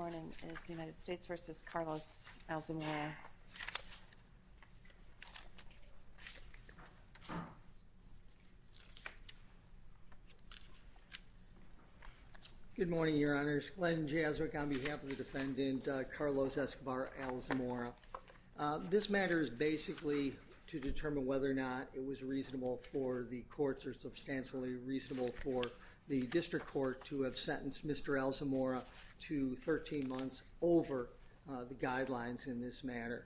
morning is the United States v. Carlos Alzamora. Good morning, Your Honors. Glenn Jazwick on behalf of the defendant, Carlos Escobar Alzamora. This matter is basically to determine whether or not it was reasonable for the courts or substantially reasonable for the district court to have sentenced Mr. Alzamora to the death penalty. To 13 months over the guidelines in this matter.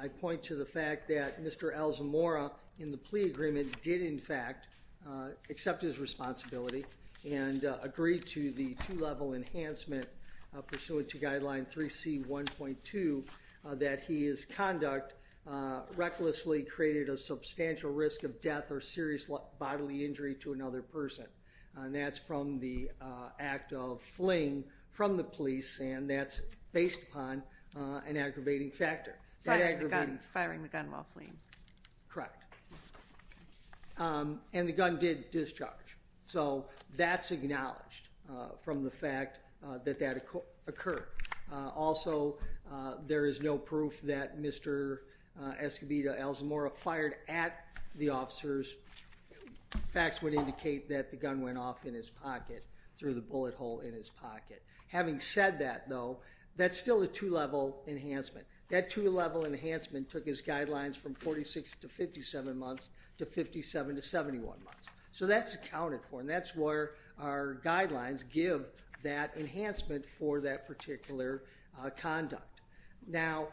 I point to the fact that Mr. Alzamora in the plea agreement did in fact accept his responsibility and agreed to the two level enhancement pursuant to guideline 3C 1.2 that he is conduct recklessly created a substantial risk of death or serious bodily injury to another person. And that's from the act of fleeing from the police and that's based upon an aggravating factor. Firing the gun while fleeing. Correct. And the gun did discharge. So that's acknowledged from the fact that that occurred. Also, there is no proof that Mr. Escobar Alzamora fired at the officers. Facts would indicate that the gun went off in his pocket through the bullet hole in his pocket. Having said that, though, that's still a two level enhancement. That two level enhancement took his guidelines from 46 to 57 months to 57 to 71 months. So that's accounted for and that's where our guidelines give that enhancement for that particular conduct. Now,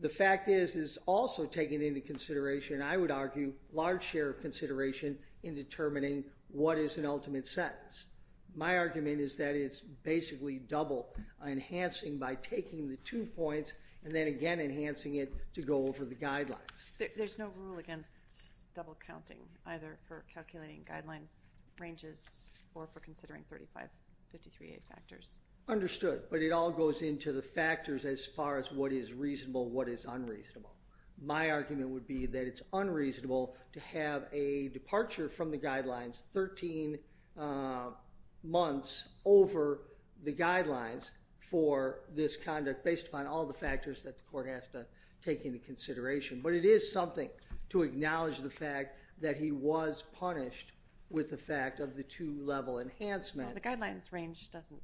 the fact is, is also taken into consideration, I would argue, large share of consideration in determining what is an ultimate sentence. My argument is that it's basically double enhancing by taking the two points and then again enhancing it to go over the guidelines. There's no rule against double counting, either for calculating guidelines ranges or for considering 35-53-8 factors. Understood. But it all goes into the factors as far as what is reasonable, what is unreasonable. My argument would be that it's unreasonable to have a departure from the guidelines 13 months over the guidelines for this conduct based upon all the factors that the court has to take into consideration. But it is something to acknowledge the fact that he was punished with the fact of the two level enhancement. The guidelines range doesn't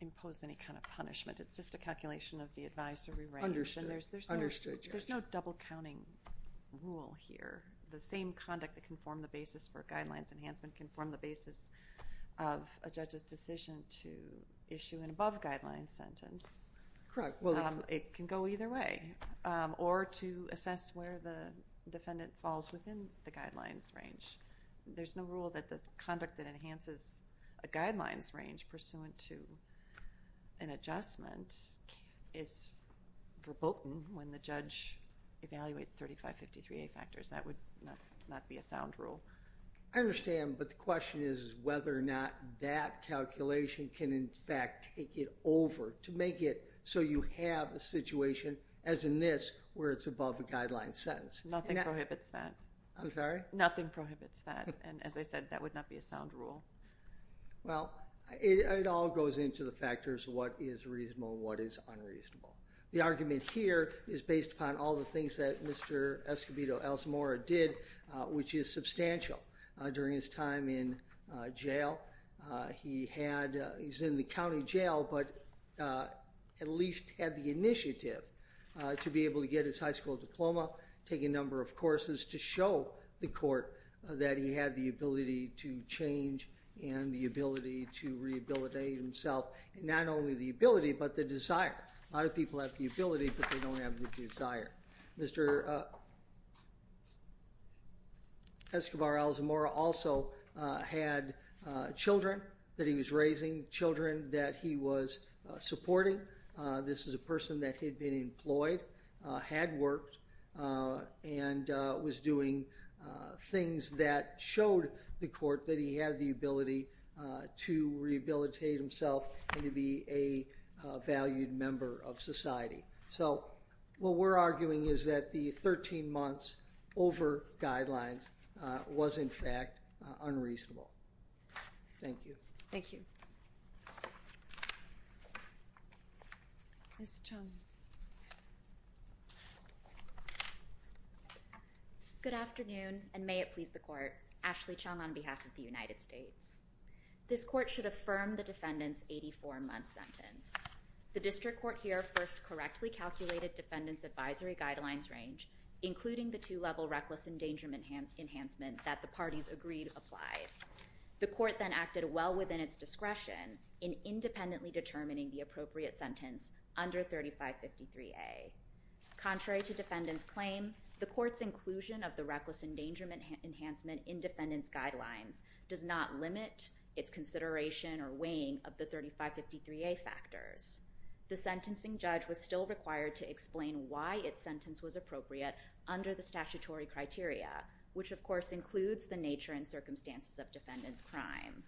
impose any kind of punishment. It's just a calculation of the advisory range. Understood. There's no double counting rule here. The same conduct that can form the basis for guidelines enhancement can form the basis of a judge's decision to issue an above guidelines sentence. Correct. It can go either way or to assess where the defendant falls within the guidelines range. There's no rule that the conduct that enhances a guidelines range pursuant to an adjustment is verboten when the judge evaluates 35-53-8 factors. That would not be a sound rule. I understand, but the question is whether or not that calculation can in fact take it over to make it so you have a situation as in this where it's above a guidelines sentence. Nothing prohibits that. I'm sorry? Nothing prohibits that. And as I said, that would not be a sound rule. Well, it all goes into the factors of what is reasonable and what is unreasonable. The argument here is based upon all the things that Mr. Escobedo-Elsamora did, which is substantial. During his time in jail, he's in the county jail, but at least had the initiative to be able to get his high school diploma, take a number of courses to show the court that he had the ability to change and the ability to rehabilitate himself. Not only the ability, but the desire. A lot of people have the ability, but they don't have the desire. Mr. Escobedo-Elsamora also had children that he was raising, children that he was supporting. This is a person that had been employed, had worked, and was doing things that showed the court that he had the ability to rehabilitate himself and to be a valued member of society. So what we're arguing is that the 13 months over guidelines was in fact unreasonable. Thank you. Thank you. Ms. Chung. Good afternoon, and may it please the court. Ashley Chung on behalf of the United States. This court should affirm the defendant's 84-month sentence. The district court here first correctly calculated defendant's advisory guidelines range, including the two-level reckless endangerment enhancement that the parties agreed applied. The court then acted well within its discretion in independently determining the appropriate sentence under 3553A. Contrary to defendant's claim, the court's inclusion of the reckless endangerment enhancement in defendant's guidelines does not limit its consideration or weighing of the 3553A factors. The sentencing judge was still required to explain why its sentence was appropriate under the statutory criteria, which of course includes the nature and circumstances of defendant's crime.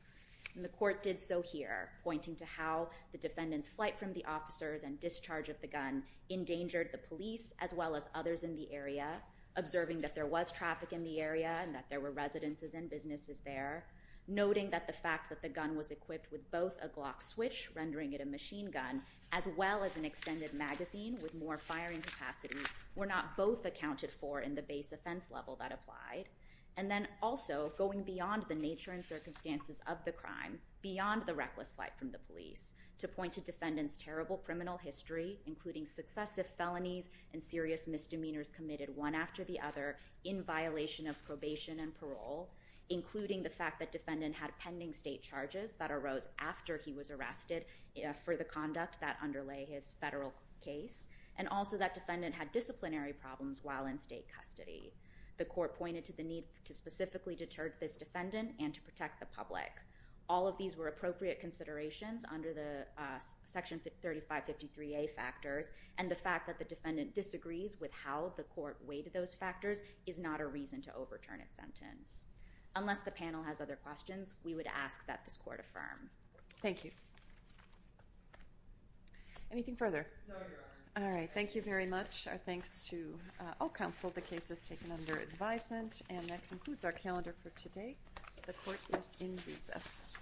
And the court did so here, pointing to how the defendant's flight from the officers and discharge of the gun endangered the police as well as others in the area, observing that there was traffic in the area and that there were residences and businesses there, noting that the fact that the gun was equipped with both a Glock switch, rendering it a machine gun, as well as an extended magazine with more firing capacity were not both accounted for in the base offense level that applied, and then also going beyond the nature and circumstances of the crime, beyond the reckless flight from the police, to point to defendant's terrible criminal history, including successive felonies and serious misdemeanors committed one after the other in violation of probation and parole, including the fact that defendant had pending state charges that arose after he was arrested for the conduct that underlay his federal case, and also that defendant had disciplinary problems while in state custody. The court pointed to the need to specifically deter this defendant and to protect the public. All of these were appropriate considerations under the Section 3553A factors, and the fact that the defendant disagrees with how the court weighted those factors is not a reason to overturn its sentence. Unless the panel has other questions, we would ask that this court affirm. Thank you. Anything further? No, Your Honor. All right, thank you very much. Our thanks to all counsel. The case is taken under advisement, and that concludes our calendar for today. The court is in recess.